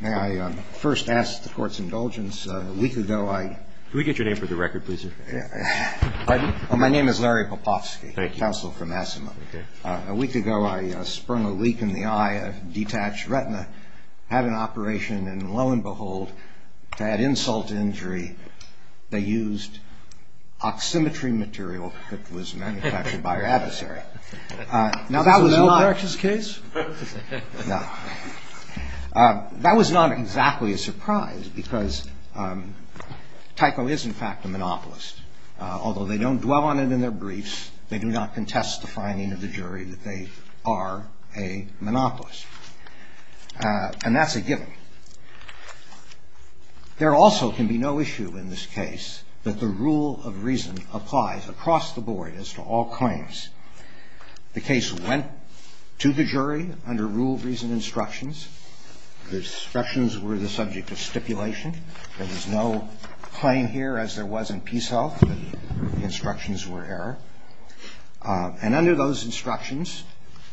May I first ask the court's indulgence? A week ago I... Can we get your name for the record, please? My name is Larry Popovsky, counsel for Massimo. A week ago I sprung a leak in the eye of a detached retina, had an operation, and lo and behold, I had insult to injury. They used oximetry material that was manufactured by your adversary. Is this a medical practice case? No. That was not exactly a surprise because Tyco is, in fact, a monopolist. Although they don't dwell on it in their briefs, they do not contest the finding of the jury that they are a monopolist. And that's a given. There also can be no issue in this case that the rule of reason applies across the board as to all claims. The case went to the jury under rule of reason instructions. The instructions were the subject of stipulation. There was no claim here as there was in Peace Health. The instructions were error. And under those instructions,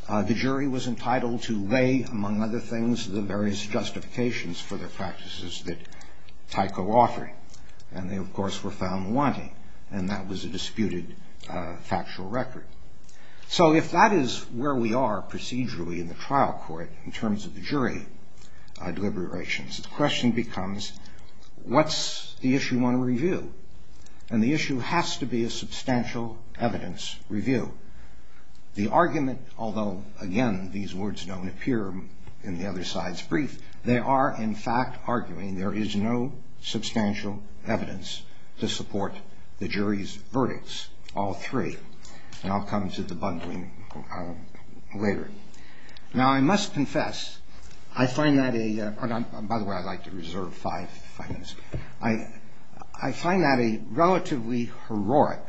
the jury was entitled to weigh, among other things, the various justifications for the practices that Tyco offered. And they, of course, were found wanting. And that was a disputed factual record. So if that is where we are procedurally in the trial court in terms of the jury deliberations, the question becomes what's the issue we want to review? And the issue has to be a substantial evidence review. The argument, although, again, these words don't appear in the other side's brief, they are, in fact, arguing there is no substantial evidence to support the jury's verdicts, all three. And I'll come to the bundling later. Now, I must confess, I find that a ‑‑ by the way, I'd like to reserve five minutes. I find that a relatively heroic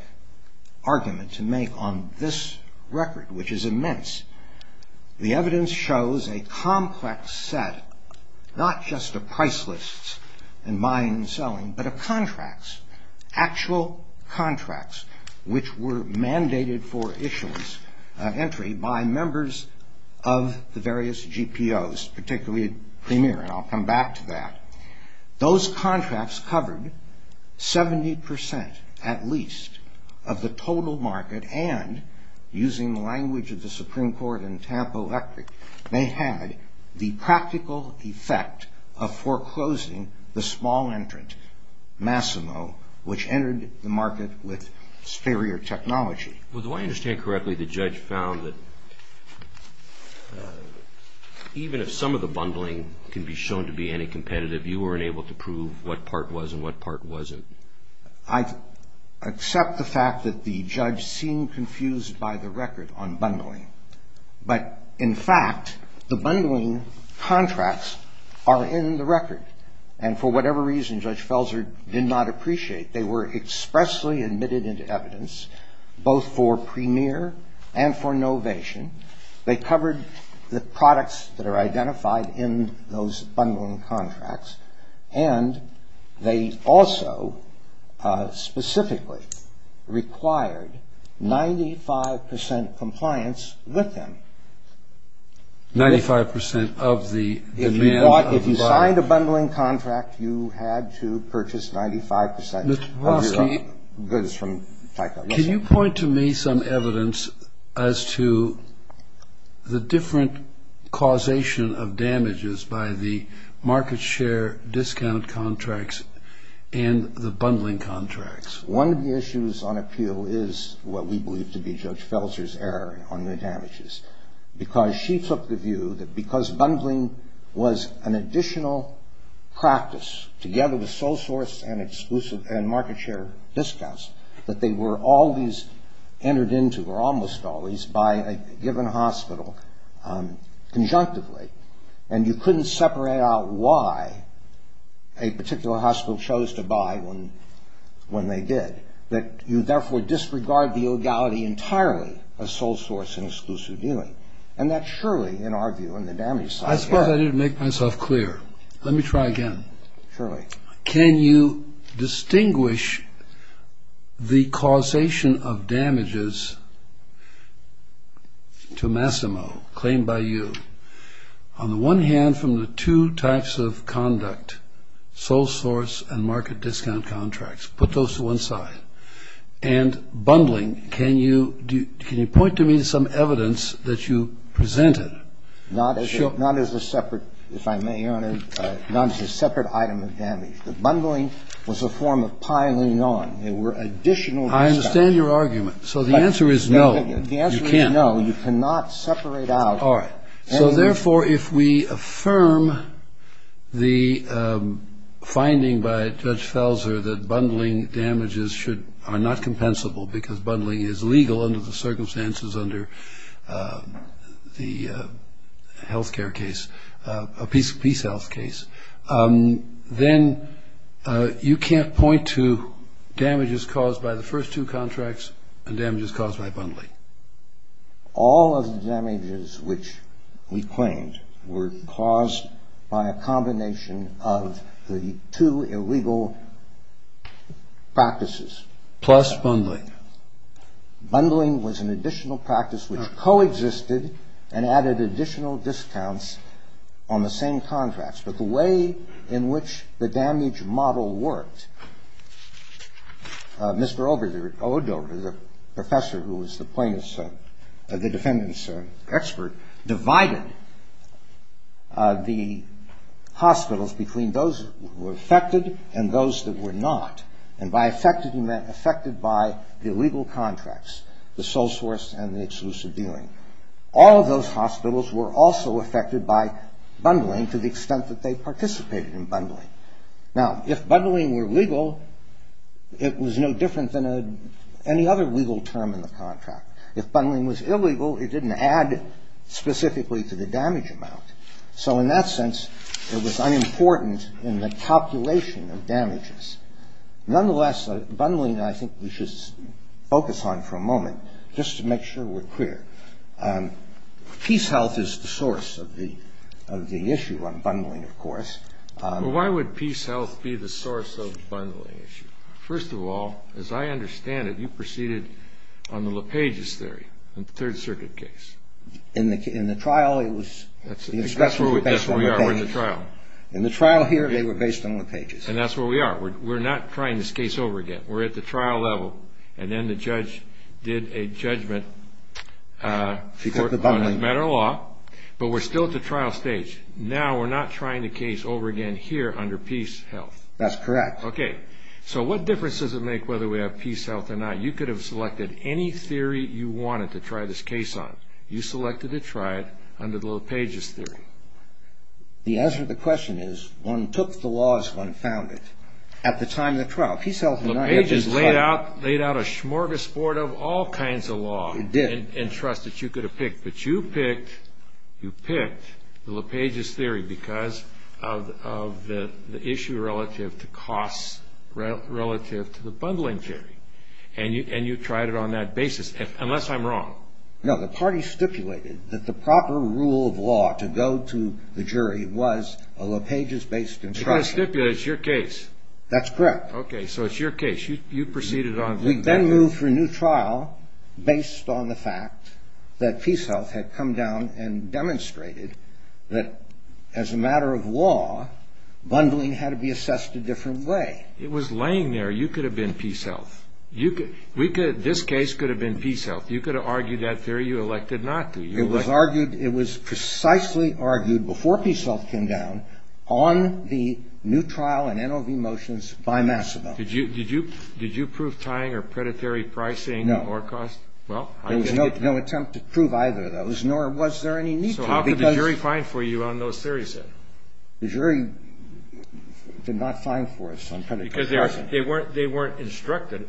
argument to make on this record, which is immense. The evidence shows a complex set, not just of price lists and buying and selling, but of contracts, actual contracts which were mandated for issuance, entry, by members of the various GPOs, particularly Premier, and I'll come back to that. Those contracts covered 70 percent at least of the total market and, using the language of the Supreme Court in Tampa Electric, they had the practical effect of foreclosing the small entrant, Massimo, which entered the market with superior technology. Well, do I understand correctly the judge found that even if some of the bundling can be shown to be any competitive, you weren't able to prove what part was and what part wasn't? I accept the fact that the judge seemed confused by the record on bundling, but, in fact, the bundling contracts are in the record, and for whatever reason Judge Felser did not appreciate, they were expressly admitted into evidence both for Premier and for Novation. They covered the products that are identified in those bundling contracts and they also specifically required 95 percent compliance with them. Ninety-five percent of the demand of the... If you bought, if you signed a bundling contract, you had to purchase 95 percent of your goods from Taipa. Can you point to me some evidence as to the different causation of damages by the market share discount contracts and the bundling contracts? One of the issues on appeal is what we believe to be Judge Felser's error on the damages because she took the view that because bundling was an additional practice, together with sole source and exclusive and market share discounts, that they were always entered into, or almost always, by a given hospital conjunctively, and you couldn't separate out why a particular hospital chose to buy when they did, that you therefore disregard the legality entirely of sole source and exclusive dealing. And that surely, in our view, on the damage side... Just to make myself clear, let me try again. Surely. Can you distinguish the causation of damages to Massimo, claimed by you, on the one hand from the two types of conduct, sole source and market discount contracts? Put those to one side. And bundling, can you point to me some evidence that you presented? Not as a separate, if I may, Your Honor, not as a separate item of damage. The bundling was a form of piling on. There were additional... I understand your argument. So the answer is no. The answer is no. You cannot separate out... All right. So therefore, if we affirm the finding by Judge Felser that bundling damages are not compensable because bundling is legal under the circumstances under the health care case, a peace health case, then you can't point to damages caused by the first two contracts and damages caused by bundling. All of the damages which we claimed were caused by a combination of the two illegal practices. Plus bundling. Bundling was an additional practice which coexisted and added additional discounts on the same contracts. But the way in which the damage model worked, Mr. Odover, the professor who was the plaintiff's, the defendant's expert, divided the hospitals between those who were affected and those that were not. And by affected, he meant affected by the illegal contracts, the sole source and the exclusive dealing. All of those hospitals were also affected by bundling to the extent that they participated in bundling. Now, if bundling were legal, it was no different than any other legal term in the contract. If bundling was illegal, it didn't add specifically to the damage amount. So in that sense, it was unimportant in the calculation of damages. Nonetheless, bundling I think we should focus on for a moment just to make sure we're clear. Peace health is the source of the issue on bundling, of course. But why would peace health be the source of the bundling issue? First of all, as I understand it, you proceeded on the LePage's theory, the Third Circuit case. In the trial, it was, the inspection was based on LePage. In the trial here, they were based on LePage's. And that's where we are. We're not trying this case over again. We're at the trial level, and then the judge did a judgment on a matter of law. But we're still at the trial stage. Now we're not trying the case over again here under peace health. That's correct. Okay. So what difference does it make whether we have peace health or not? In the trial, you could have selected any theory you wanted to try this case on. You selected to try it under the LePage's theory. The answer to the question is one took the laws, one found it. At the time of the trial, peace health was not yet decided. LePage has laid out a smorgasbord of all kinds of law. It did. And trust that you could have picked. But you picked the LePage's theory because of the issue relative to costs relative to the bundling theory. And you tried it on that basis, unless I'm wrong. No, the party stipulated that the proper rule of law to go to the jury was a LePage's-based instruction. They're going to stipulate it's your case. That's correct. Okay, so it's your case. You proceeded on that. We then moved for a new trial based on the fact that peace health had come down and demonstrated that as a matter of law, bundling had to be assessed a different way. It was laying there. You could have been peace health. This case could have been peace health. You could have argued that theory. You elected not to. It was precisely argued before peace health came down on the new trial and NOV motions by Massimo. Did you prove tying or predatory pricing or cost? No. There was no attempt to prove either of those, nor was there any need to. So how could the jury find for you on those theories then? The jury did not find for us on predatory pricing. Because they weren't instructed.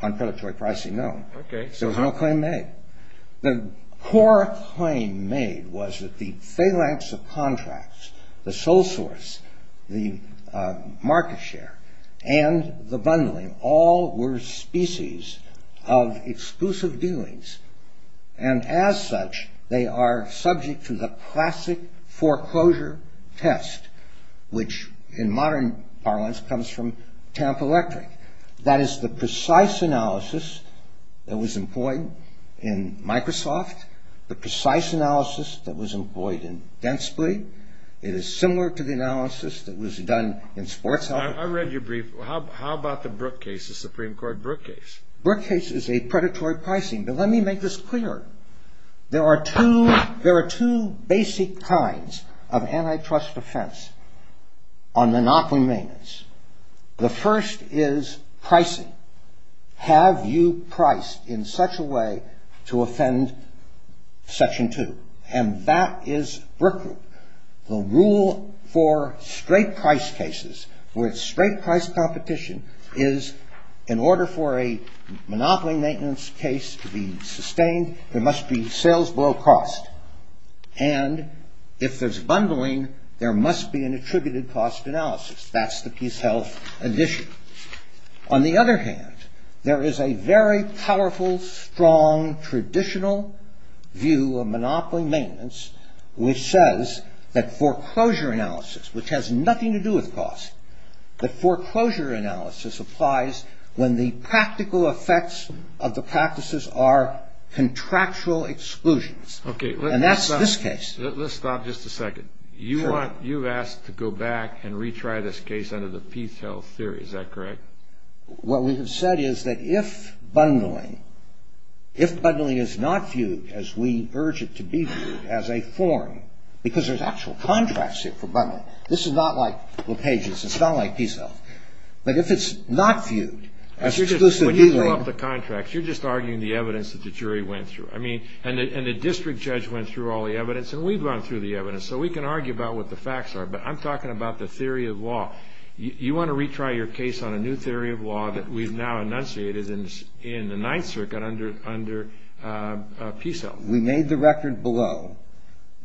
On predatory pricing, no. Okay. There was no claim made. The core claim made was that the phalanx of contracts, the sole source, the market share, and the bundling, all were species of exclusive dealings. And as such, they are subject to the classic foreclosure test, which in modern parlance comes from Tampa Electric. That is the precise analysis that was employed in Microsoft, the precise analysis that was employed in Densley. It is similar to the analysis that was done in sports health. I read your brief. How about the Brooke case, the Supreme Court Brooke case? Brooke case is a predatory pricing. But let me make this clear. There are two basic kinds of antitrust defense on monopoly maintenance. The first is pricing. Have you priced in such a way to offend Section 2? And that is Brooke rule. The rule for straight price cases, for its straight price competition, is in order for a monopoly maintenance case to be sustained, there must be sales below cost. And if there's bundling, there must be an attributed cost analysis. That's the PeaceHealth edition. On the other hand, there is a very powerful, strong, traditional view of monopoly maintenance, which says that foreclosure analysis, which has nothing to do with cost, that foreclosure analysis applies when the practical effects of the practices are contractual exclusions. And that's this case. Let's stop just a second. You've asked to go back and retry this case under the PeaceHealth theory. Is that correct? What we have said is that if bundling, if bundling is not viewed as we urge it to be viewed as a form, because there's actual contracts here for bundling. This is not like LePage's. It's not like PeaceHealth. But if it's not viewed as exclusive dealing. You're just arguing the evidence that the jury went through. I mean, and the district judge went through all the evidence. And we've gone through the evidence. So we can argue about what the facts are. But I'm talking about the theory of law. You want to retry your case on a new theory of law that we've now enunciated in the Ninth Circuit under PeaceHealth. We made the record below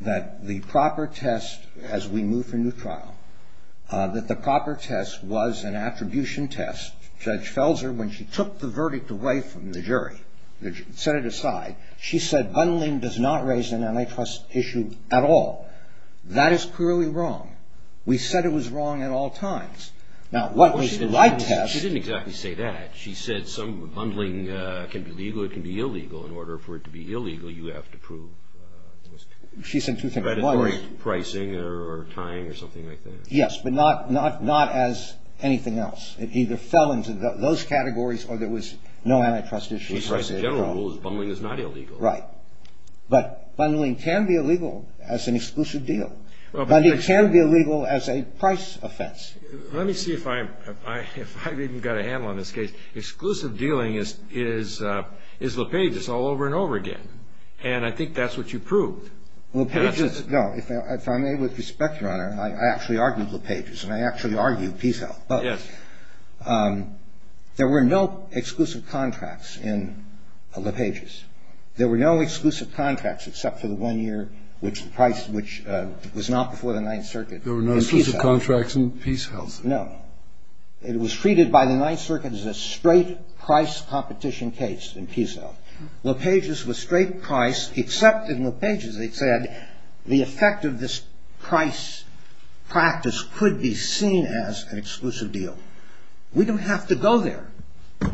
that the proper test, as we move from new trial, that the proper test was an attribution test. Judge Felser, when she took the verdict away from the jury, set it aside, she said bundling does not raise an antitrust issue at all. That is clearly wrong. We said it was wrong at all times. Now, what was the right test. She didn't exactly say that. She said some bundling can be legal, it can be illegal. In order for it to be illegal, you have to prove. She said two things. Pricing or tying or something like that. Yes, but not as anything else. It either fell into those categories or there was no antitrust issue at all. Bundling is not illegal. Right. But bundling can be illegal as an exclusive deal. Bundling can be illegal as a price offense. Let me see if I've even got a handle on this case. Exclusive dealing is LePage's all over and over again. And I think that's what you proved. No, if I may, with respect, Your Honor, I actually argued LePage's and I actually argued PeaceHealth. Yes. There were no exclusive contracts in LePage's. There were no exclusive contracts except for the one year which the price which was not before the Ninth Circuit. There were no exclusive contracts in PeaceHealth. No. It was treated by the Ninth Circuit as a straight price competition case in PeaceHealth. LePage's was straight price except in LePage's they said the effect of this price practice could be seen as an exclusive deal. We don't have to go there.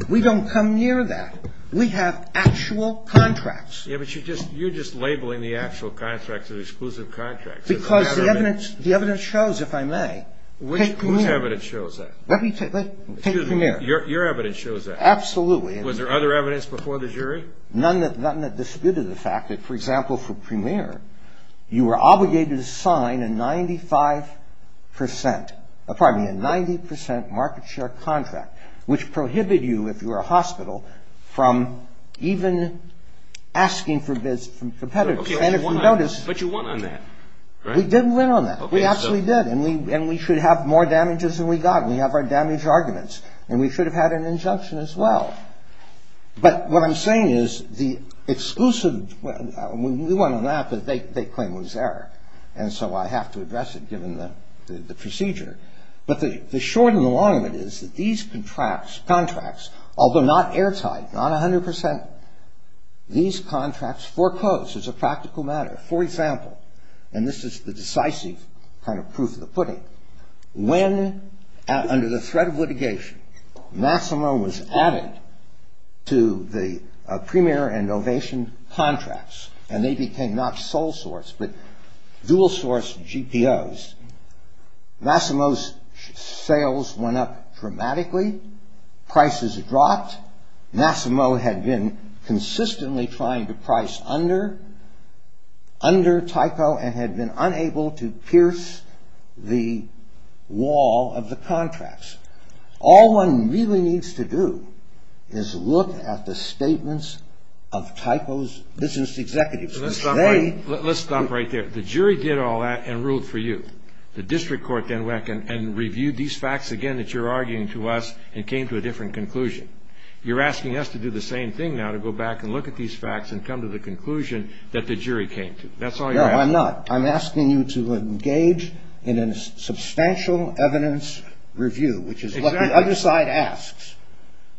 We don't come near that. We have actual contracts. Yeah, but you're just labeling the actual contracts as exclusive contracts. Because the evidence shows, if I may, take Premier. Whose evidence shows that? Let me take Premier. Your evidence shows that. Absolutely. Was there other evidence before the jury? None that disputed the fact that, for example, for Premier, you were obligated to sign a 95 percent, pardon me, a 90 percent market share contract, which prohibited you, if you were a hospital, from even asking for bids from competitors. But you won on that, right? We didn't win on that. We absolutely did. And we should have more damages than we got. We have our damage arguments. And we should have had an injunction as well. But what I'm saying is the exclusive, we won on that, but they claim it was there. And so I have to address it, given the procedure. But the short and the long of it is that these contracts, although not airtight, not 100 percent, these contracts foreclosed as a practical matter. For example, and this is the decisive kind of proof of the pudding, when under the threat of litigation, Massimo was added to the Premier and Ovation contracts. And they became not sole source, but dual source GPOs. Massimo's sales went up dramatically. Prices dropped. Massimo had been consistently trying to price under Tyco and had been unable to pierce the wall of the contracts. All one really needs to do is look at the statements of Tyco's business executives. Let's stop right there. The jury did all that and ruled for you. The district court then went and reviewed these facts again that you're arguing to us and came to a different conclusion. You're asking us to do the same thing now, to go back and look at these facts and come to the conclusion that the jury came to. That's all you're asking. No, I'm not. I'm asking you to engage in a substantial evidence review, which is what the other side asks.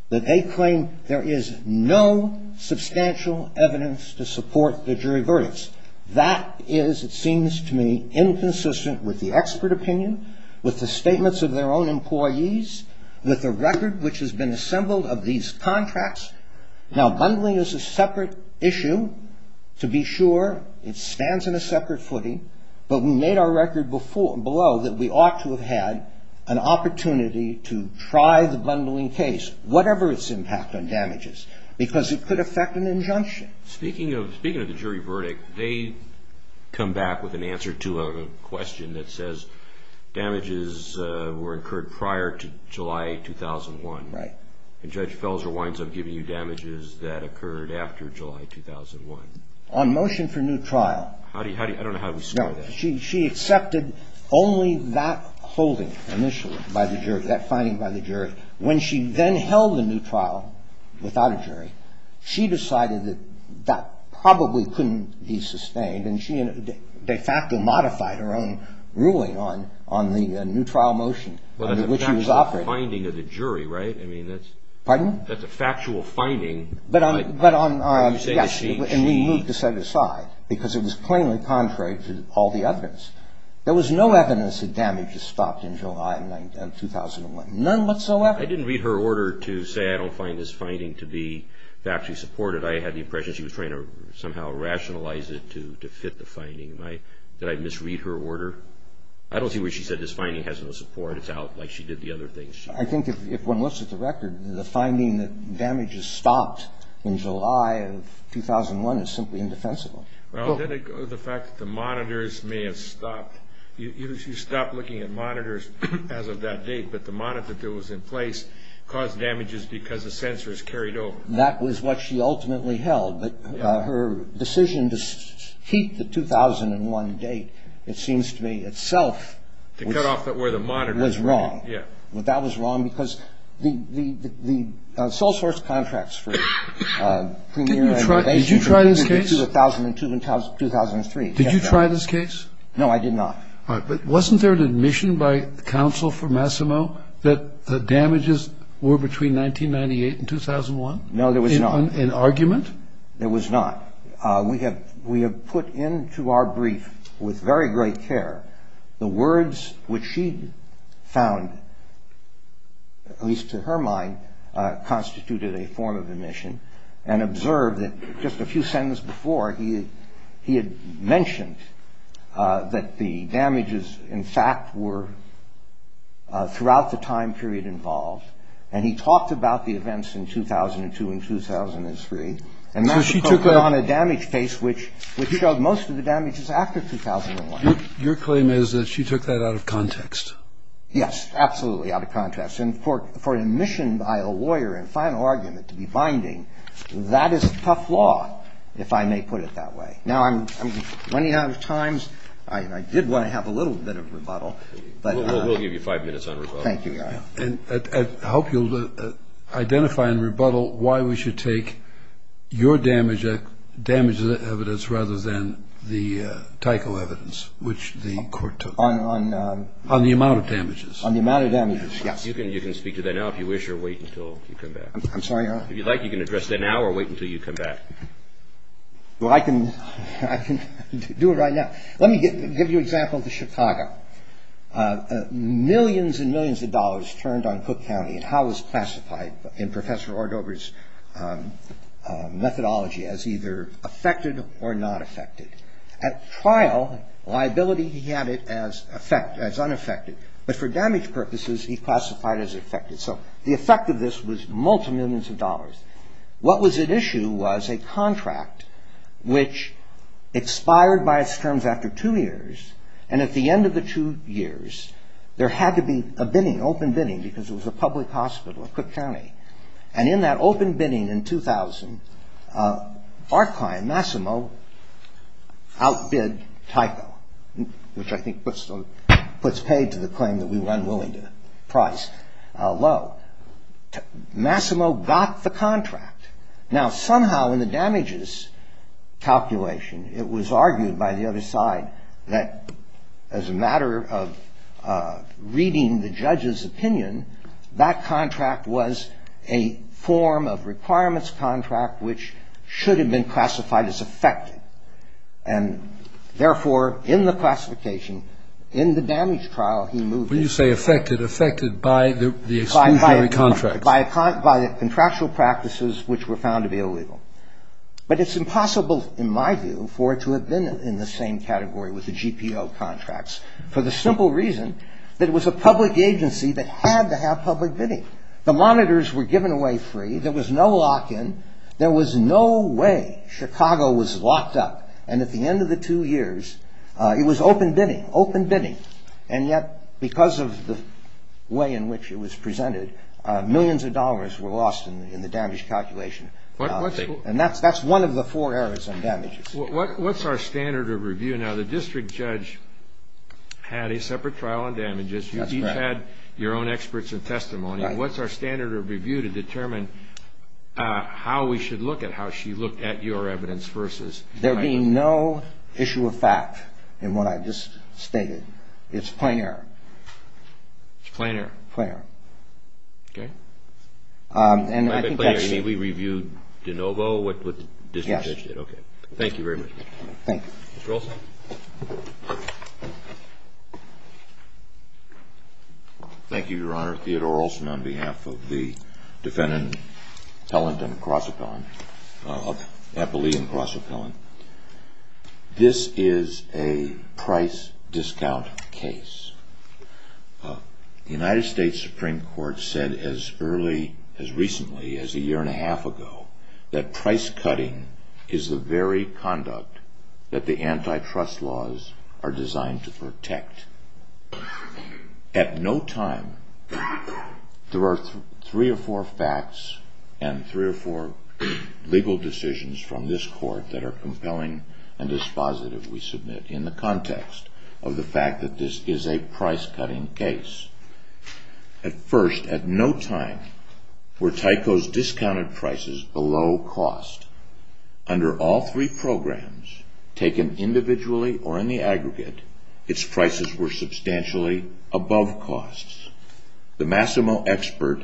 That they claim there is no substantial evidence to support the jury verdicts. That is, it seems to me, inconsistent with the expert opinion, with the statements of their own employees, with the record which has been assembled of these contracts. Now, bundling is a separate issue, to be sure. It stands in a separate footing. But we made our record below that we ought to have had an opportunity to try the bundling case, whatever its impact on damages, because it could affect an injunction. Speaking of the jury verdict, they come back with an answer to a question that says damages were incurred prior to July 2001. Right. And Judge Felser winds up giving you damages that occurred after July 2001. On motion for new trial. I don't know how to describe that. No. But when she then held the new trial without a jury, she decided that that probably couldn't be sustained, and she de facto modified her own ruling on the new trial motion under which she was operating. Well, that's a factual finding of the jury, right? Pardon? That's a factual finding. Yes, and we moved to set it aside, because it was plainly contrary to all the evidence. There was no evidence that damages stopped in July 2001. None whatsoever. I didn't read her order to say I don't find this finding to be factually supported. I had the impression she was trying to somehow rationalize it to fit the finding. Did I misread her order? I don't see where she said this finding has no support. It's out like she did the other things. I think if one looks at the record, the finding that damages stopped in July of 2001 is simply indefensible. Well, then it goes to the fact that the monitors may have stopped. You stopped looking at monitors as of that date, but the monitor that was in place caused damages because the sensors carried over. That was what she ultimately held. But her decision to keep the 2001 date, it seems to me, itself was wrong. To cut off where the monitors were. Yeah. That was wrong, because the sole source contracts for premier regulations... Did you try this case? 2002 and 2003. Did you try this case? No, I did not. All right. But wasn't there an admission by counsel for Massimo that the damages were between 1998 and 2001? No, there was not. In argument? There was not. We have put into our brief with very great care the words which she found, at least to her mind, constituted a form of admission and observed that just a few sentences before, he had mentioned that the damages, in fact, were throughout the time period involved. And he talked about the events in 2002 and 2003. And that was put on a damage case which showed most of the damages after 2001. Your claim is that she took that out of context. Yes, absolutely out of context. And for an admission by a lawyer and final argument to be binding, that is a tough law, if I may put it that way. Now, I'm running out of time. I did want to have a little bit of rebuttal. We'll give you five minutes on rebuttal. Thank you, Your Honor. I hope you'll identify and rebuttal why we should take your damages as evidence rather than the Tyco evidence which the court took. On the amount of damages. On the amount of damages, yes. You can speak to that now if you wish or wait until you come back. I'm sorry, Your Honor? If you'd like, you can address that now or wait until you come back. Well, I can do it right now. Let me give you an example of Chicago. Millions and millions of dollars turned on Cook County and how it was classified in Professor Ordover's methodology as either affected or not affected. At trial, liability, he had it as unaffected. But for damage purposes, he classified as affected. So the effect of this was multi-millions of dollars. What was at issue was a contract which expired by its terms after two years. And at the end of the two years, there had to be a bidding, open bidding, because it was a public hospital in Cook County. And in that open bidding in 2000, our client, Massimo, outbid Tyco, which I think puts paid to the claim that we were unwilling to price low. Massimo got the contract. Now, somehow in the damages calculation, it was argued by the other side that as a matter of reading the judge's opinion, that contract was a form of requirements contract which should have been classified as affected. And therefore, in the classification, in the damage trial, he moved it. When you say affected, affected by the exclusionary contracts. By the contractual practices which were found to be illegal. But it's impossible in my view for it to have been in the same category with the GPO contracts for the simple reason that it was a public agency that had to have public bidding. The monitors were given away free. There was no lock-in. There was no way Chicago was locked up. And at the end of the two years, it was open bidding, open bidding. And yet, because of the way in which it was presented, millions of dollars were lost in the damage calculation. And that's one of the four errors on damages. What's our standard of review? Now, the district judge had a separate trial on damages. You each had your own experts and testimony. What's our standard of review to determine how we should look at how she looked at your evidence versus. There being no issue of fact in what I just stated. It's plain error. It's plain error. Plain error. Okay. And I think that's. We reviewed de novo what the district judge did. Yes. Okay. Thank you very much. Thank you. Mr. Olsen. Thank you, Your Honor. Theodore Olsen on behalf of the defendant, Pellenton Crossapellin. Appellee and Crossapellin. This is a price discount case. The United States Supreme Court said as early, as recently as a year and a half ago, that price cutting is the very conduct that the antitrust laws are designed to protect. At no time, there are three or four facts and three or four legal decisions from this court that are compelling and dispositive, we submit, in the context of the fact that this is a price cutting case. At first, at no time, were Tyco's discounted prices below cost. Under all three programs, taken individually or in the aggregate, its prices were substantially above costs. The Massimo expert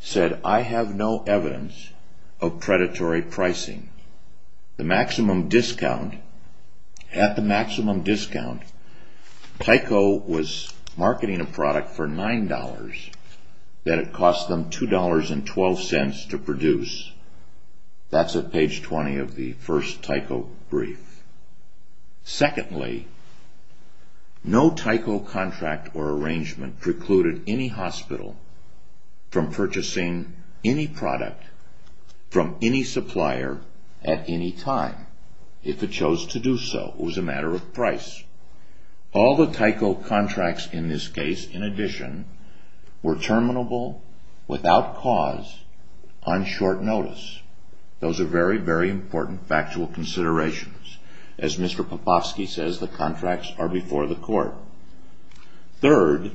said, I have no evidence of predatory pricing. The maximum discount, at the maximum discount, Tyco was marketing a product for $9, that it cost them $2.12 to produce. That's at page 20 of the first Tyco brief. Secondly, no Tyco contract or arrangement precluded any hospital from purchasing any product from any supplier at any time. If it chose to do so, it was a matter of price. All the Tyco contracts in this case, in addition, were terminable without cause on short notice. Those are very, very important factual considerations. As Mr. Popofsky says, the contracts are before the court. Third,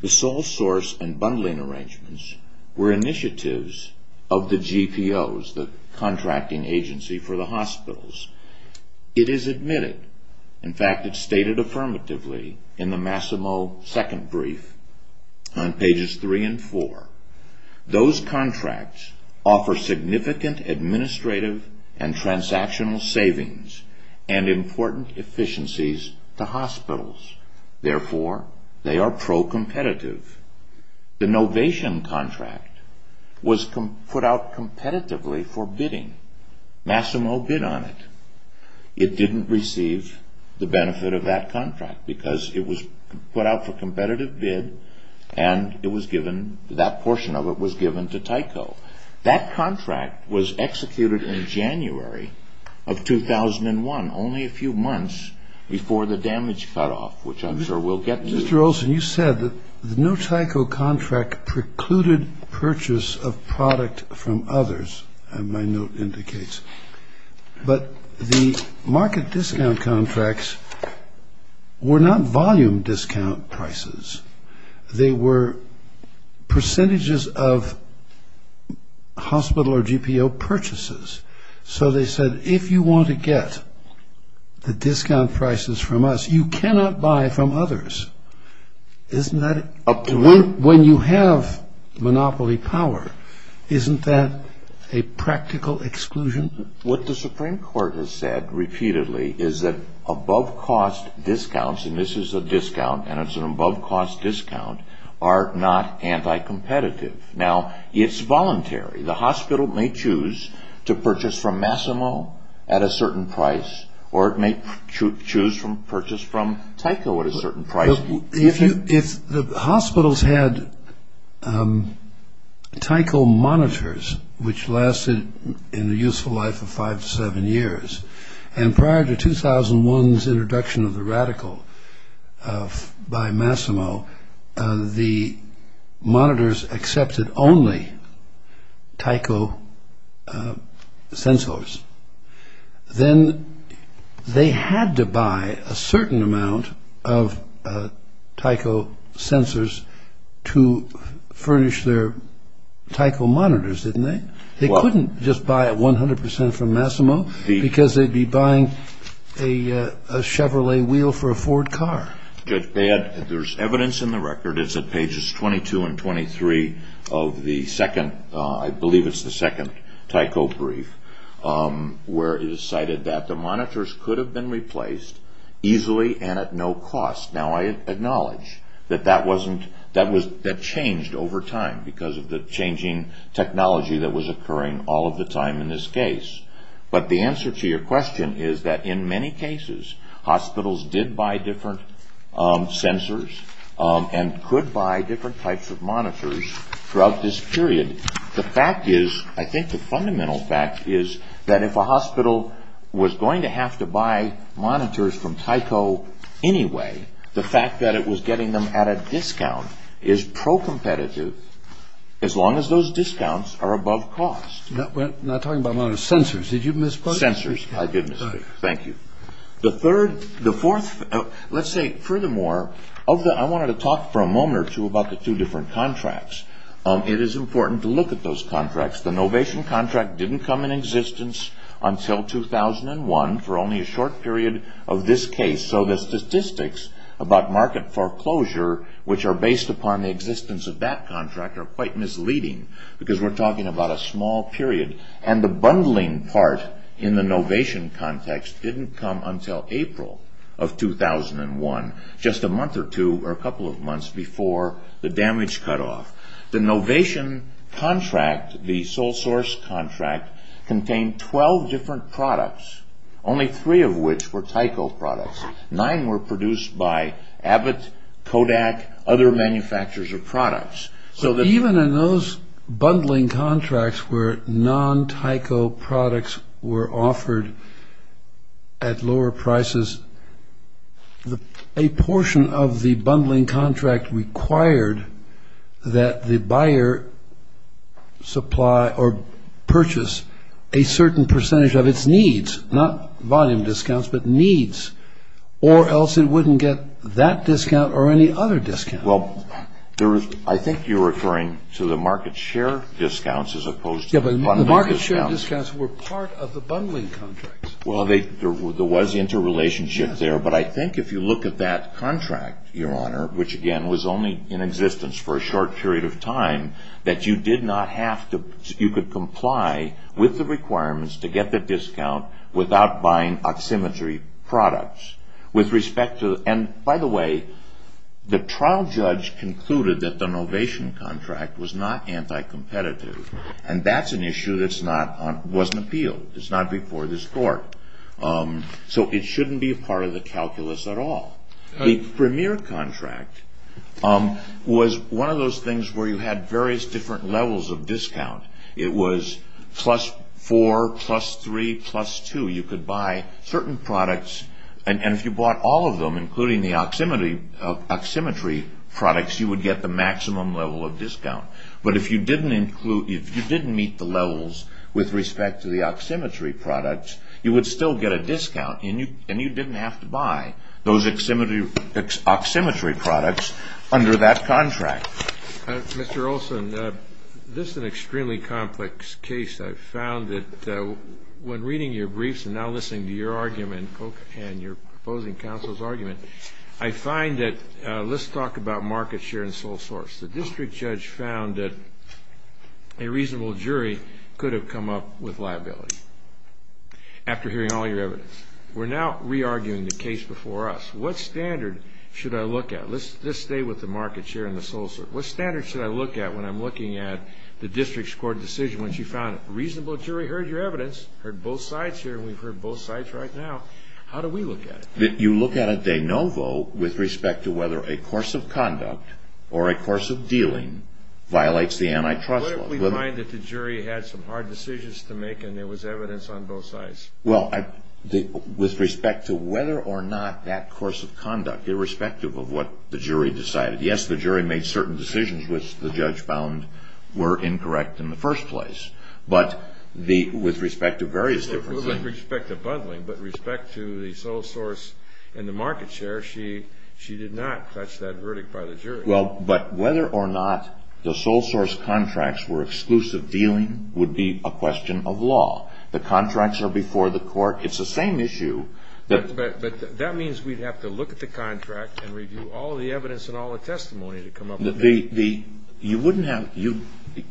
the sole source and bundling arrangements were initiatives of the GPOs, the contracting agency for the hospitals. It is admitted. In fact, it's stated affirmatively in the Massimo second brief on pages three and four. Those contracts offer significant administrative and transactional savings and important efficiencies to hospitals. Therefore, they are pro-competitive. The Novation contract was put out competitively for bidding. Massimo bid on it. It didn't receive the benefit of that contract because it was put out for competitive bid and that portion of it was given to Tyco. That contract was executed in January of 2001, only a few months before the damage cutoff, which I'm sure we'll get to. Mr. Olson, you said that the No Tyco contract precluded purchase of product from others, as my note indicates, but the market discount contracts were not volume discount prices. They were percentages of hospital or GPO purchases. So they said, if you want to get the discount prices from us, you cannot buy from others. When you have monopoly power, isn't that a practical exclusion? What the Supreme Court has said repeatedly is that above-cost discounts, and this is a discount and it's an above-cost discount, are not anti-competitive. Now, it's voluntary. The hospital may choose to purchase from Massimo at a certain price or it may choose to purchase from Tyco at a certain price. If the hospitals had Tyco monitors, which lasted in a useful life of five to seven years, and prior to 2001's introduction of the Radical by Massimo, the monitors accepted only Tyco sensors, then they had to buy a certain amount of Tyco sensors to furnish their Tyco monitors, didn't they? They couldn't just buy 100 percent from Massimo because they'd be buying a Chevrolet wheel for a Ford car. Judge Baird, there's evidence in the record, it's at pages 22 and 23 of the second, I believe it's the second Tyco brief, where it is cited that the monitors could have been replaced easily and at no cost. Now, I acknowledge that that changed over time because of the changing technology that was occurring all of the time in this case, but the answer to your question is that in many cases, hospitals did buy different sensors and could buy different types of monitors throughout this period. The fact is, I think the fundamental fact is that if a hospital was going to have to buy monitors from Tyco anyway, the fact that it was getting them at a discount is pro-competitive as long as those discounts are above cost. Not talking about monitors, sensors. Did you misspoke? Sensors, I did misspeak. Thank you. Let's say, furthermore, I wanted to talk for a moment or two about the two different contracts. It is important to look at those contracts. The Novation contract didn't come into existence until 2001 for only a short period of this case, so the statistics about market foreclosure, which are based upon the existence of that contract, are quite misleading because we're talking about a small period. The bundling part in the Novation context didn't come until April of 2001, just a month or two or a couple of months before the damage cutoff. The Novation contract, the sole source contract, contained 12 different products, only three of which were Tyco products. Nine were produced by Abbott, Kodak, other manufacturers of products. Even in those bundling contracts where non-Tyco products were offered at lower prices, a portion of the bundling contract required that the buyer supply or purchase a certain percentage of its needs, not volume discounts, but needs, or else it wouldn't get that discount or any other discount. Well, I think you're referring to the market share discounts as opposed to the bundling discounts. Yes, but the market share discounts were part of the bundling contracts. Well, there was interrelationship there, but I think if you look at that contract, Your Honor, which again was only in existence for a short period of time, that you could comply with the requirements to get the discount without buying oximetry products. By the way, the trial judge concluded that the Novation contract was not anti-competitive, and that's an issue that wasn't appealed. It's not before this court. So it shouldn't be a part of the calculus at all. The Premier contract was one of those things where you had various different levels of discount. It was plus four, plus three, plus two. You could buy certain products, and if you bought all of them, including the oximetry products, you would get the maximum level of discount. But if you didn't meet the levels with respect to the oximetry products, you would still get a discount, and you didn't have to buy those oximetry products under that contract. Mr. Olson, this is an extremely complex case. I've found that when reading your briefs and now listening to your argument and your proposing counsel's argument, I find that let's talk about market share and sole source. The district judge found that a reasonable jury could have come up with liability after hearing all your evidence. We're now re-arguing the case before us. What standard should I look at? Let's stay with the market share and the sole source. What standard should I look at when I'm looking at the district's court decision when she found a reasonable jury heard your evidence, heard both sides here, and we've heard both sides right now? How do we look at it? You look at it de novo with respect to whether a course of conduct or a course of dealing violates the antitrust law. What if we find that the jury had some hard decisions to make and there was evidence on both sides? Well, with respect to whether or not that course of conduct, irrespective of what the jury decided, yes, the jury made certain decisions which the judge found were incorrect in the first place. But with respect to various different things. With respect to bundling, but respect to the sole source and the market share, she did not touch that verdict by the jury. Well, but whether or not the sole source contracts were exclusive dealing would be a question of law. The contracts are before the court. It's the same issue. But that means we'd have to look at the contract and review all the evidence and all the testimony to come up with. You wouldn't have to.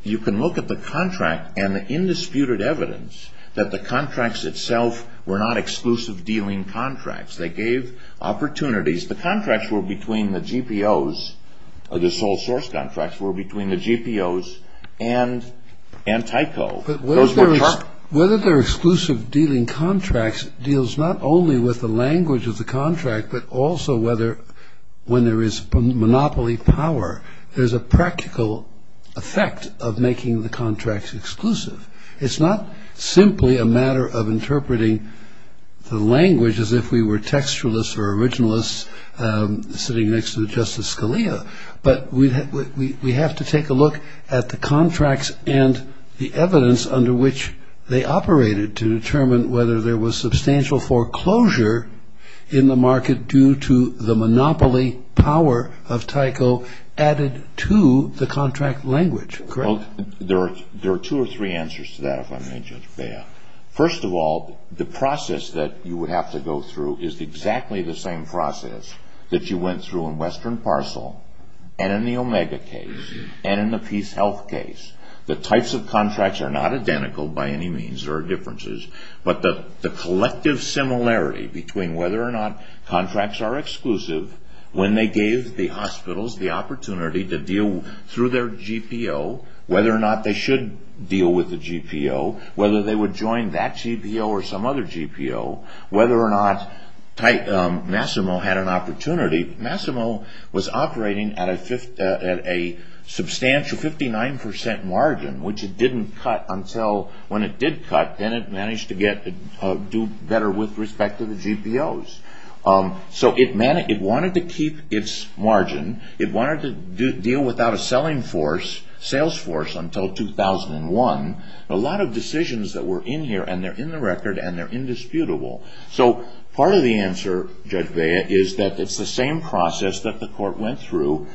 You can look at the contract and the indisputed evidence that the contracts itself were not exclusive dealing contracts. They gave opportunities. The contracts were between the GPOs, the sole source contracts, were between the GPOs and TYCO. But whether they're exclusive dealing contracts deals not only with the language of the contract, but also whether when there is monopoly power, there's a practical effect of making the contracts exclusive. It's not simply a matter of interpreting the language as if we were textualists or originalists sitting next to Justice Scalia. But we have to take a look at the contracts and the evidence under which they operated to determine whether there was substantial foreclosure in the market due to the monopoly power of TYCO added to the contract language. Well, there are two or three answers to that, if I may, Judge Bea. First of all, the process that you would have to go through is exactly the same process that you went through in Western Parcel and in the Omega case and in the Peace Health case. The types of contracts are not identical by any means or differences, but the collective similarity between whether or not contracts are exclusive when they gave the hospitals the opportunity to deal through their GPO, whether or not they should deal with the GPO, whether they would join that GPO or some other GPO, whether or not Massimo had an opportunity. Massimo was operating at a substantial 59% margin, which it didn't cut until when it did cut. Then it managed to do better with respect to the GPOs. So it wanted to keep its margin. It wanted to deal without a selling force, Salesforce, until 2001. A lot of decisions that were in here, and they're in the record, and they're indisputable. So part of the answer, Judge Bea, is that it's the same process that the court went through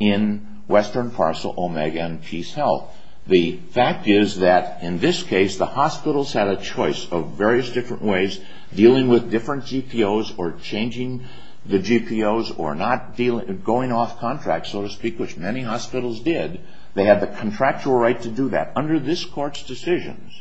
in Western Parcel, Omega, and Peace Health. The fact is that in this case, the hospitals had a choice of various different ways, dealing with different GPOs or changing the GPOs or not going off contracts, so to speak, which many hospitals did. They had the contractual right to do that. Under this court's decisions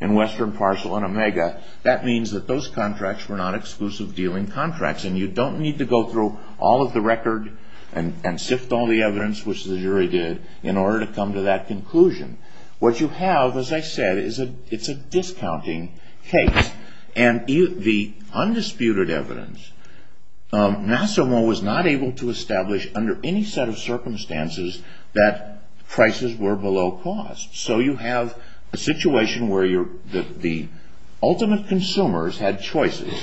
in Western Parcel and Omega, that means that those contracts were not exclusive dealing contracts, and you don't need to go through all of the record and sift all the evidence, which the jury did, in order to come to that conclusion. What you have, as I said, is a discounting case. The undisputed evidence, Nassimo was not able to establish under any set of circumstances that prices were below cost. So you have a situation where the ultimate consumers had choices,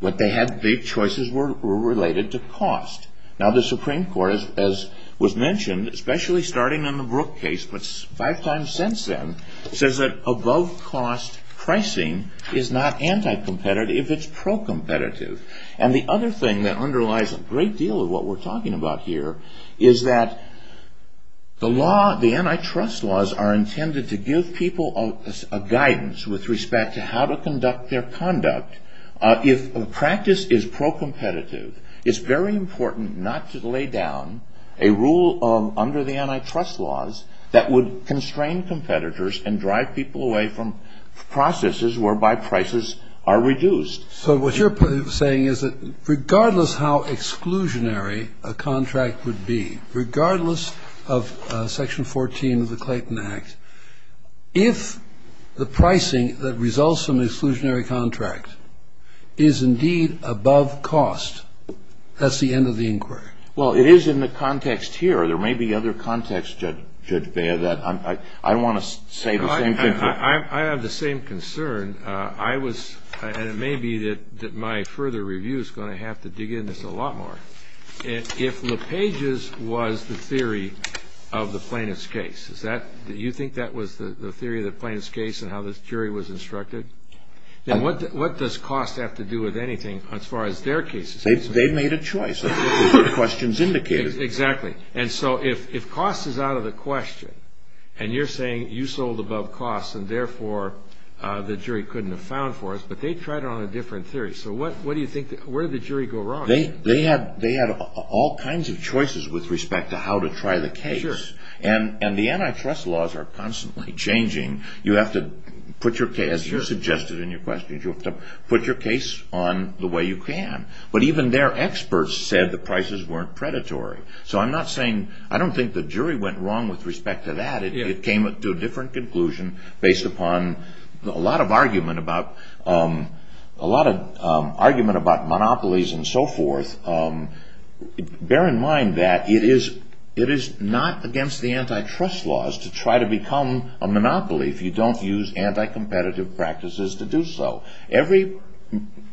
but the choices were related to cost. Now, the Supreme Court, as was mentioned, especially starting in the Brook case, but five times since then, says that above-cost pricing is not anti-competitive if it's pro-competitive. And the other thing that underlies a great deal of what we're talking about here is that the antitrust laws are intended to give people a guidance with respect to how to conduct their conduct. If a practice is pro-competitive, it's very important not to lay down a rule under the antitrust laws that would constrain competitors and drive people away from processes whereby prices are reduced. So what you're saying is that regardless how exclusionary a contract would be, regardless of Section 14 of the Clayton Act, if the pricing that results from an exclusionary contract is indeed above cost, that's the end of the inquiry. Well, it is in the context here. There may be other contexts, Judge Beyer, that I want to say the same thing. I have the same concern, and it may be that my further review is going to have to dig into this a lot more. If LePage's was the theory of the plaintiff's case, do you think that was the theory of the plaintiff's case and how the jury was instructed? And what does cost have to do with anything as far as their case is concerned? They've made a choice. That's what the questions indicated. Exactly. And so if cost is out of the question and you're saying you sold above cost and, therefore, the jury couldn't have found for us, but they tried it on a different theory. So what do you think? Where did the jury go wrong? They had all kinds of choices with respect to how to try the case. And the antitrust laws are constantly changing. You have to put your case, as you suggested in your questions, you have to put your case on the way you can. But even their experts said the prices weren't predatory. So I'm not saying – I don't think the jury went wrong with respect to that. It came to a different conclusion based upon a lot of argument about monopolies and so forth. Bear in mind that it is not against the antitrust laws to try to become a monopoly if you don't use anti-competitive practices to do so. Every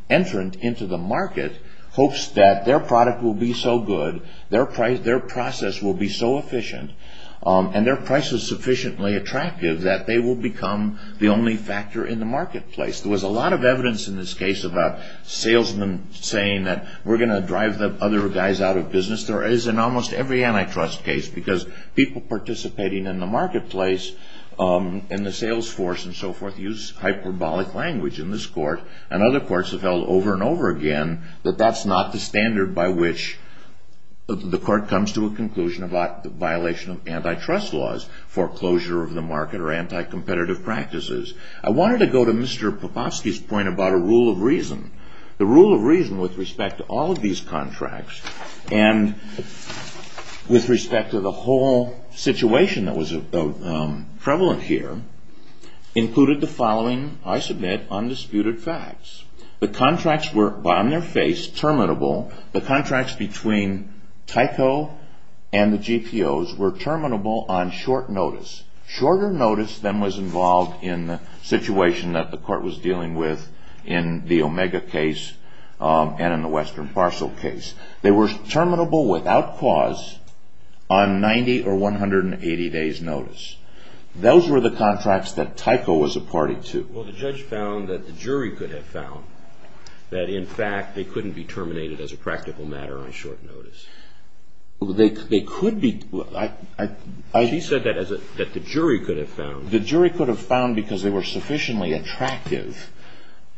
entrant into the market hopes that their product will be so good, their process will be so efficient, and their price is sufficiently attractive that they will become the only factor in the marketplace. There was a lot of evidence in this case about salesmen saying that we're going to drive the other guys out of business. There is in almost every antitrust case because people participating in the marketplace and the sales force and so forth use hyperbolic language in this court and other courts have held over and over again that that's not the standard by which the court comes to a conclusion about the violation of antitrust laws, foreclosure of the market, or anti-competitive practices. I wanted to go to Mr. Popofsky's point about a rule of reason. The rule of reason with respect to all of these contracts and with respect to the whole situation that was prevalent here included the following, I submit, undisputed facts. The contracts were on their face, terminable. The contracts between Tyco and the GPOs were terminable on short notice. Shorter notice than was involved in the situation that the court was dealing with in the Omega case and in the Western Parcel case. They were terminable without cause on 90 or 180 days notice. Those were the contracts that Tyco was a party to. Well, the judge found that the jury could have found that, in fact, they couldn't be terminated as a practical matter on short notice. They could be. She said that the jury could have found. The jury could have found because they were sufficiently attractive.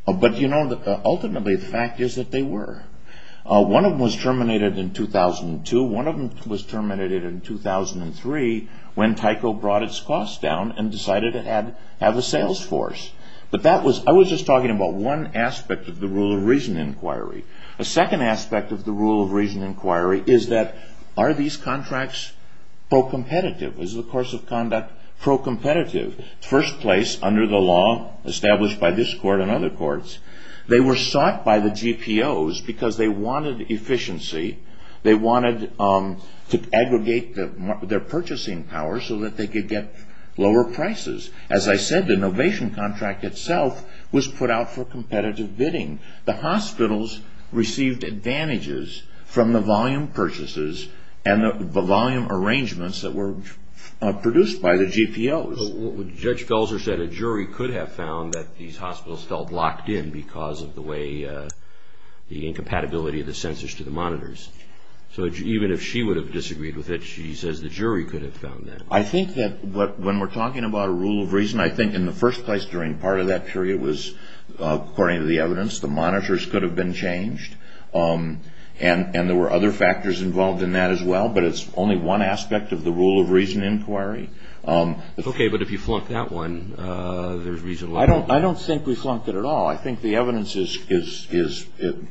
But, you know, ultimately the fact is that they were. One of them was terminated in 2002. One of them was terminated in 2003 when Tyco brought its costs down and decided to have a sales force. But that was, I was just talking about one aspect of the rule of reason inquiry. A second aspect of the rule of reason inquiry is that are these contracts pro-competitive? Is the course of conduct pro-competitive? First place under the law established by this court and other courts. They were sought by the GPOs because they wanted efficiency. They wanted to aggregate their purchasing power so that they could get lower prices. As I said, the Novation contract itself was put out for competitive bidding. The hospitals received advantages from the volume purchases and the volume arrangements that were produced by the GPOs. So Judge Felser said a jury could have found that these hospitals felt locked in because of the way, the incompatibility of the censors to the monitors. So even if she would have disagreed with it, she says the jury could have found that. I think that when we're talking about a rule of reason, I think in the first place during part of that period was, according to the evidence, the monitors could have been changed. And there were other factors involved in that as well. But it's only one aspect of the rule of reason inquiry. Okay. But if you flunk that one, there's reasonable doubt. I don't think we flunked it at all. I think the evidence is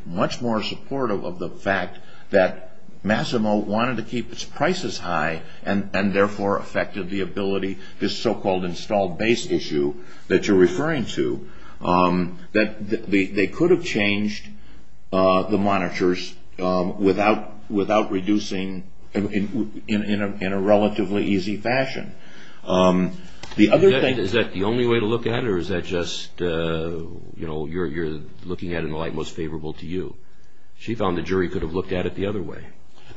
much more supportive of the fact that Massimo wanted to keep its prices high and therefore affected the ability, this so-called installed base issue that you're referring to, that they could have changed the monitors without reducing in a relatively easy fashion. Is that the only way to look at it or is that just you're looking at it in the light most favorable to you? She found the jury could have looked at it the other way.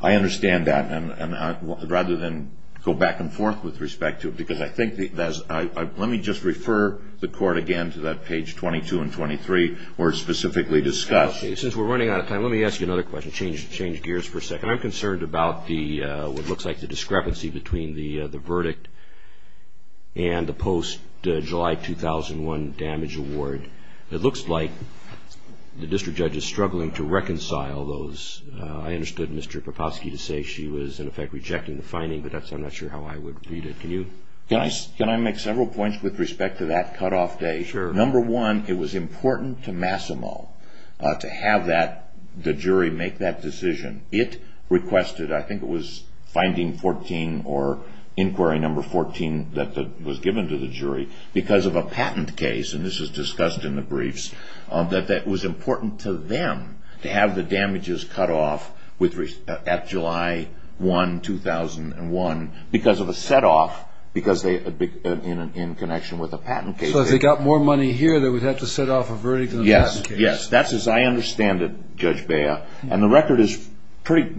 I understand that. And rather than go back and forth with respect to it, let me just refer the court again to that page 22 and 23 where it's specifically discussed. Since we're running out of time, let me ask you another question. Change gears for a second. I'm concerned about what looks like the discrepancy between the verdict and the post-July 2001 damage award. It looks like the district judge is struggling to reconcile those. I understood Mr. Papofsky to say she was in effect rejecting the finding, but I'm not sure how I would read it. Can I make several points with respect to that cutoff date? Number one, it was important to Massimo to have the jury make that decision. It requested, I think it was finding 14 or inquiry number 14 that was given to the jury because of a patent case, and this was discussed in the briefs, that it was important to them to have the damages cut off at July 1, 2001 because of a set-off in connection with a patent case. So if they got more money here, they would have to set off a verdict in the patent case. Yes, yes. That's as I understand it, Judge Bea. And the record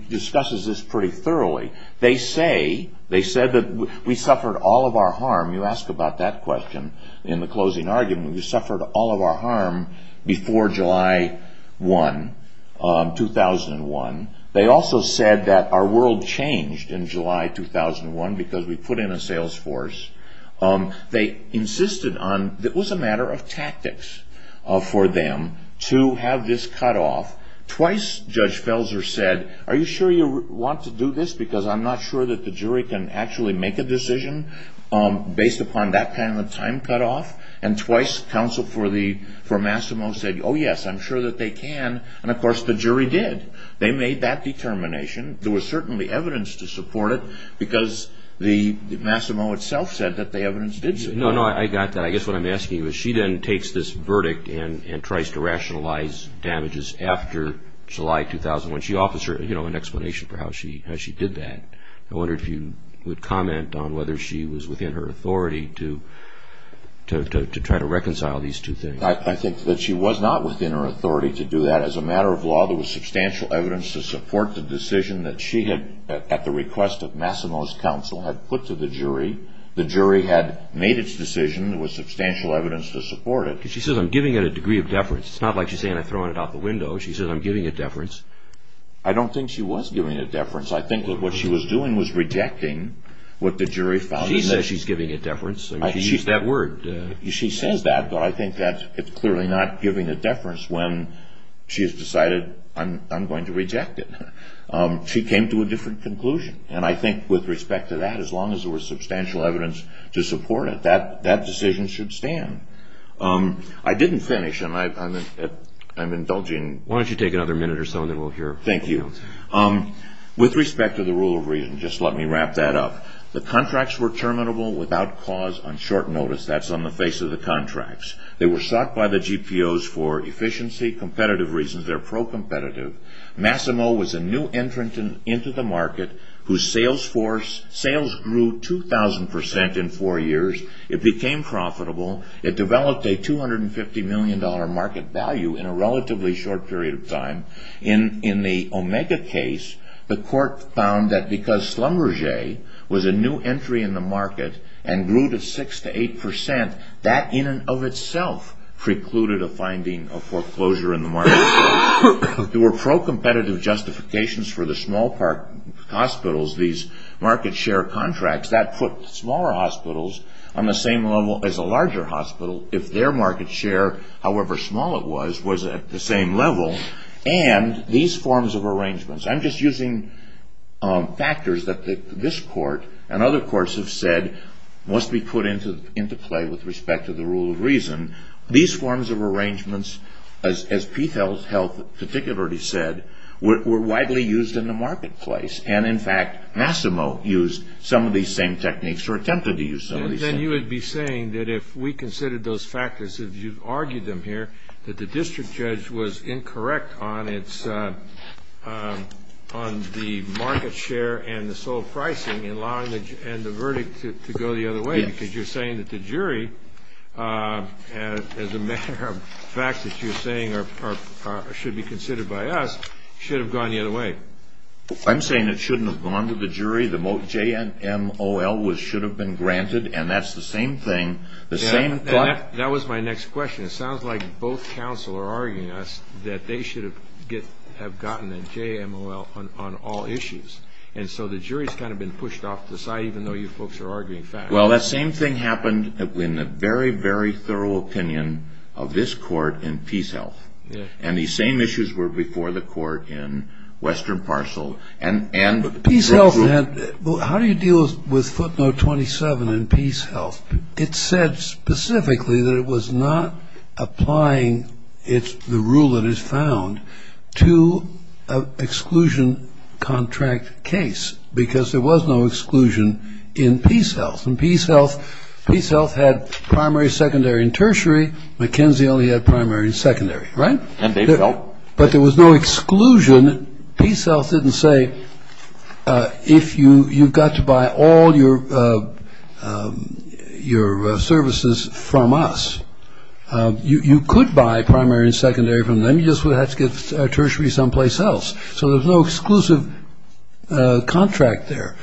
discusses this pretty thoroughly. They say that we suffered all of our harm. You asked about that question in the closing argument. We suffered all of our harm before July 1, 2001. They also said that our world changed in July 2001 because we put in a sales force. They insisted on, it was a matter of tactics for them to have this cutoff. Twice, Judge Felser said, are you sure you want to do this because I'm not sure that the jury can actually make a decision based upon that kind of time cutoff? And twice, counsel for Massimo said, oh yes, I'm sure that they can, and of course the jury did. They made that determination. There was certainly evidence to support it because Massimo itself said that the evidence did support it. No, no, I got that. I guess what I'm asking you is she then takes this verdict and tries to rationalize damages after July 2001. She offers an explanation for how she did that. I wonder if you would comment on whether she was within her authority to try to reconcile these two things. I think that she was not within her authority to do that. As a matter of law, there was substantial evidence to support the decision that she had, at the request of Massimo's counsel, had put to the jury. The jury had made its decision. There was substantial evidence to support it. She says I'm giving it a degree of deference. It's not like she's saying I'm throwing it out the window. She says I'm giving it deference. I don't think she was giving it deference. I think what she was doing was rejecting what the jury found. She says she's giving it deference. She used that word. She says that, but I think that it's clearly not giving it deference when she has decided I'm going to reject it. She came to a different conclusion, and I think with respect to that, as long as there was substantial evidence to support it, that decision should stand. I didn't finish, and I'm indulging. Why don't you take another minute or so, and then we'll hear from you. Thank you. With respect to the rule of reason, just let me wrap that up. The contracts were terminable without cause on short notice. That's on the face of the contracts. They were sought by the GPOs for efficiency, competitive reasons. They're pro-competitive. Massimo was a new entrant into the market whose sales grew 2,000% in four years. It became profitable. It developed a $250 million market value in a relatively short period of time. In the Omega case, the court found that because Schlumberger was a new entry in the market and grew to 6% to 8%, that in and of itself precluded a finding of foreclosure in the market. There were pro-competitive justifications for the small hospitals, these market share contracts. That put smaller hospitals on the same level as a larger hospital if their market share, however small it was, was at the same level. And these forms of arrangements, I'm just using factors that this court and other courts have said must be put into play with respect to the rule of reason. These forms of arrangements, as Pethel's health particularly said, were widely used in the marketplace. And, in fact, Massimo used some of these same techniques or attempted to use some of these same techniques. I'm saying that if we considered those factors, if you argued them here, that the district judge was incorrect on the market share and the sold pricing and the verdict to go the other way because you're saying that the jury, as a matter of fact that you're saying should be considered by us, should have gone the other way. I'm saying it shouldn't have gone to the jury. The JMOL should have been granted. And that's the same thing. That was my next question. It sounds like both counsel are arguing that they should have gotten a JMOL on all issues. And so the jury's kind of been pushed off the side, even though you folks are arguing facts. Well, that same thing happened in the very, very thorough opinion of this court in PeaceHealth. And these same issues were before the court in Western Parcel. How do you deal with footnote 27 in PeaceHealth? It said specifically that it was not applying the rule that is found to exclusion contract case because there was no exclusion in PeaceHealth. And PeaceHealth had primary, secondary, and tertiary. McKenzie only had primary and secondary, right? And they felt. But there was no exclusion. PeaceHealth didn't say you've got to buy all your services from us. You could buy primary and secondary from them. You just would have to get tertiary someplace else. So there's no exclusive contract there.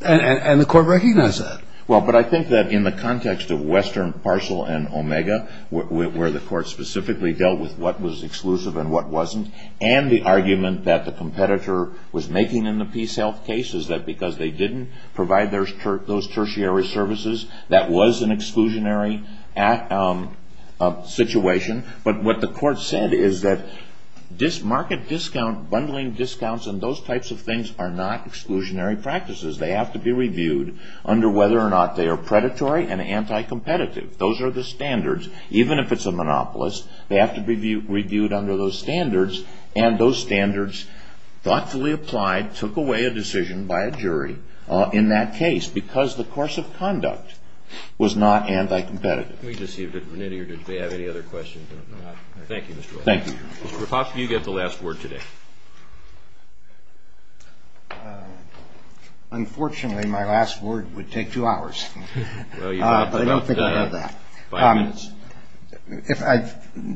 And the court recognized that. Well, but I think that in the context of Western Parcel and Omega, where the court specifically dealt with what was exclusive and what wasn't, and the argument that the competitor was making in the PeaceHealth case is that because they didn't provide those tertiary services, that was an exclusionary situation. But what the court said is that market discount, bundling discounts, and those types of things are not exclusionary practices. They have to be reviewed under whether or not they are predatory and anti-competitive. Those are the standards. Even if it's a monopolist, they have to be reviewed under those standards. And those standards thoughtfully applied, took away a decision by a jury in that case because the course of conduct was not anti-competitive. Let me just see if we have any other questions. Thank you, Mr. Roy. Thank you. Mr. Rapap, you get the last word today. Unfortunately, my last word would take two hours. But I don't think I have that. If I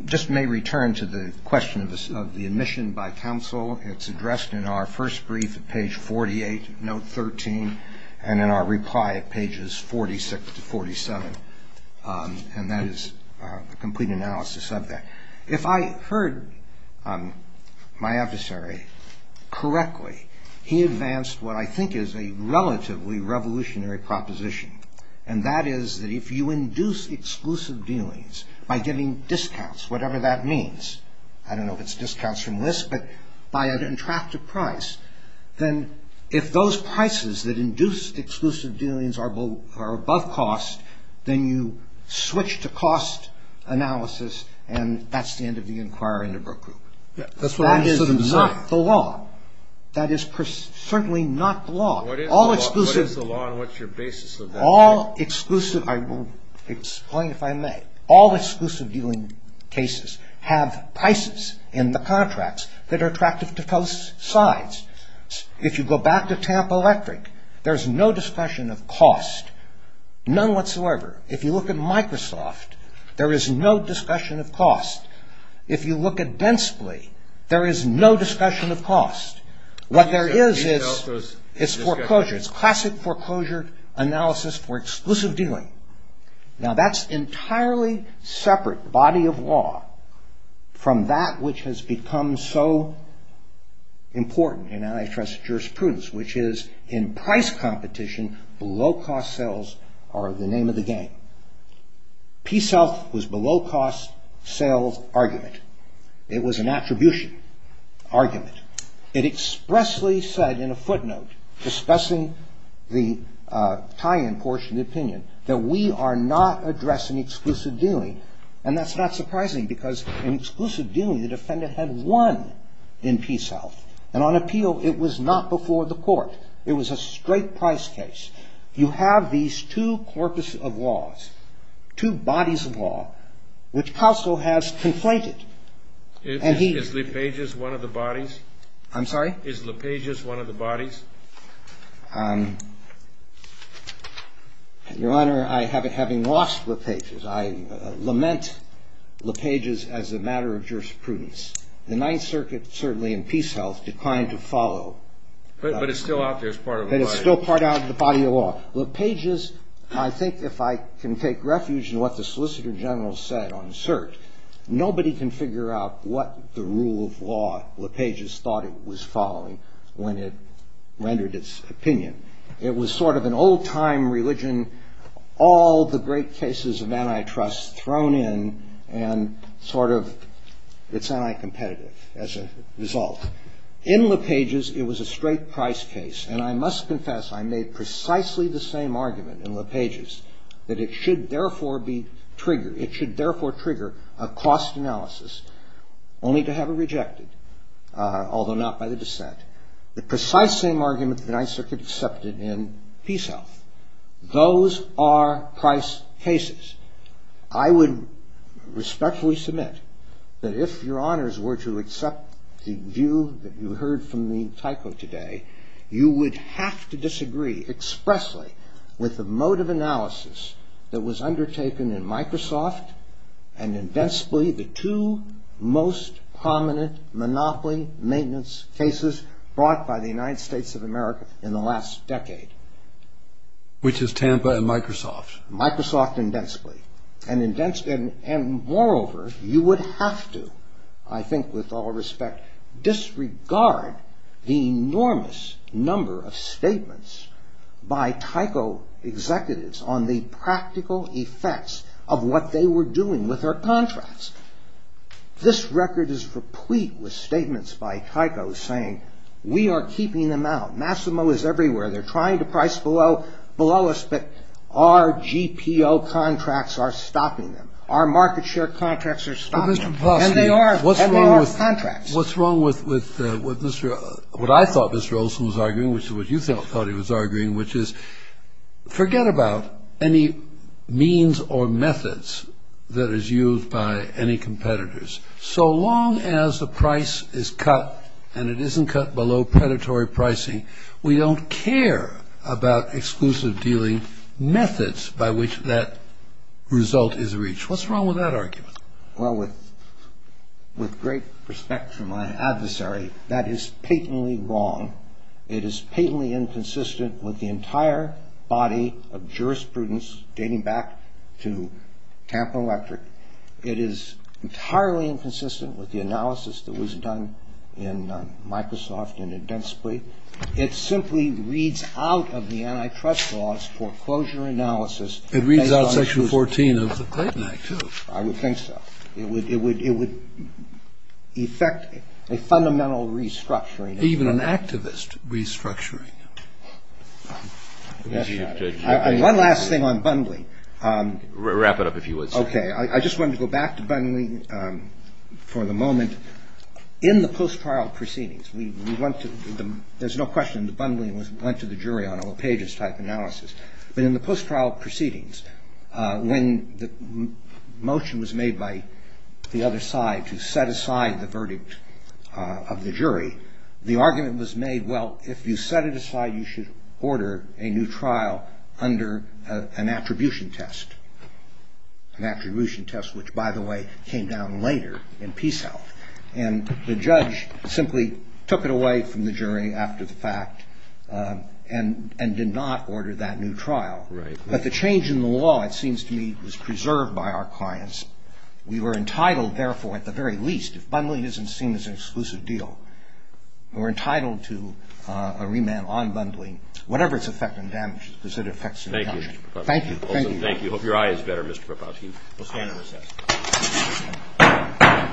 just may return to the question of the admission by counsel, it's addressed in our first brief at page 48, note 13, and in our reply at pages 46 to 47. And that is a complete analysis of that. If I heard my adversary correctly, he advanced what I think is a relatively revolutionary proposition, and that is that if you induce exclusive dealings by getting discounts, whatever that means, I don't know if it's discounts from this, but by an intractable price, then if those prices that induce exclusive dealings are above cost, then you switch to cost analysis, and that's the end of the Inquiry into Brooke Group. That is not the law. That is certainly not the law. What is the law, and what's your basis of that? All exclusive, I will explain if I may, all exclusive dealing cases have prices in the contracts that are attractive to both sides. If you go back to Tampa Electric, there's no discussion of cost, none whatsoever. If you look at Microsoft, there is no discussion of cost. If you look at Densely, there is no discussion of cost. What there is is foreclosure. It's classic foreclosure analysis for exclusive dealing. Now, that's entirely separate, body of law, from that which has become so important in antitrust jurisprudence, which is in price competition, below-cost sales are the name of the game. PeaceHealth was below-cost sales argument. It was an attribution argument. It expressly said in a footnote discussing the tie-in portion of the opinion that we are not addressing exclusive dealing, and that's not surprising because in exclusive dealing, the defendant had won in PeaceHealth, and on appeal, it was not before the court. It was a straight price case. You have these two corpuses of laws, two bodies of law, which Counsel has complained. And he- Is LePage's one of the bodies? I'm sorry? Is LePage's one of the bodies? Your Honor, having lost LePage's, I lament LePage's as a matter of jurisprudence. The Ninth Circuit, certainly in PeaceHealth, declined to follow. But it's still out there as part of the body of law. But it's still part of the body of law. LePage's, I think if I can take refuge in what the Solicitor General said on cert, nobody can figure out what the rule of law LePage's thought it was following when it rendered its opinion. It was sort of an old-time religion, all the great cases of antitrust thrown in, and sort of it's anti-competitive as a result. In LePage's, it was a straight price case. And I must confess, I made precisely the same argument in LePage's, that it should therefore be triggered. It should therefore trigger a cost analysis, only to have it rejected, although not by the dissent. The precise same argument the Ninth Circuit accepted in PeaceHealth. Those are price cases. I would respectfully submit that if your honors were to accept the view that you heard from the tyco today, you would have to disagree expressly with the mode of analysis that was undertaken in Microsoft and invincibly the two most prominent monopoly maintenance cases brought by the United States of America in the last decade. Which is Tampa and Microsoft. Microsoft invincibly. And moreover, you would have to, I think with all respect, disregard the enormous number of statements by tyco executives on the practical effects of what they were doing with their contracts. This record is replete with statements by tyco saying, we are keeping them out, Massimo is everywhere, they're trying to price below us, but our GPO contracts are stopping them. Our market share contracts are stopping them. And they are. And they are contracts. What's wrong with what I thought Mr. Olson was arguing, which is what you thought he was arguing, which is forget about any means or methods that is used by any competitors. So long as the price is cut and it isn't cut below predatory pricing, we don't care about exclusive dealing methods by which that result is reached. What's wrong with that argument? Well, with great respect for my adversary, that is patently wrong. It is patently inconsistent with the entire body of jurisprudence dating back to Tampa Electric. It is entirely inconsistent with the analysis that was done in Microsoft and it simply reads out of the antitrust laws foreclosure analysis. It reads out Section 14 of the Clayton Act, too. I would think so. It would affect a fundamental restructuring. Even an activist restructuring. One last thing on bundling. Wrap it up if you would, sir. Okay. I just wanted to go back to bundling for the moment. In the post-trial proceedings, there's no question the bundling went to the jury on a pages-type analysis. But in the post-trial proceedings, when the motion was made by the other side to set aside the verdict of the jury, the argument was made, well, if you set it aside, you should order a new trial under an attribution test. An attribution test, which, by the way, came down later in Peace Health. And the judge simply took it away from the jury after the fact and did not order that new trial. Right. But the change in the law, it seems to me, was preserved by our clients. We were entitled, therefore, at the very least, if bundling isn't seen as an exclusive deal, we're entitled to a remand on bundling, whatever its effect on damages because it affects the motion. Thank you, Mr. Professor. Thank you. Thank you. Thank you. Hope your eye is better, Mr. Profoskey. We'll stand and recess. Thank you.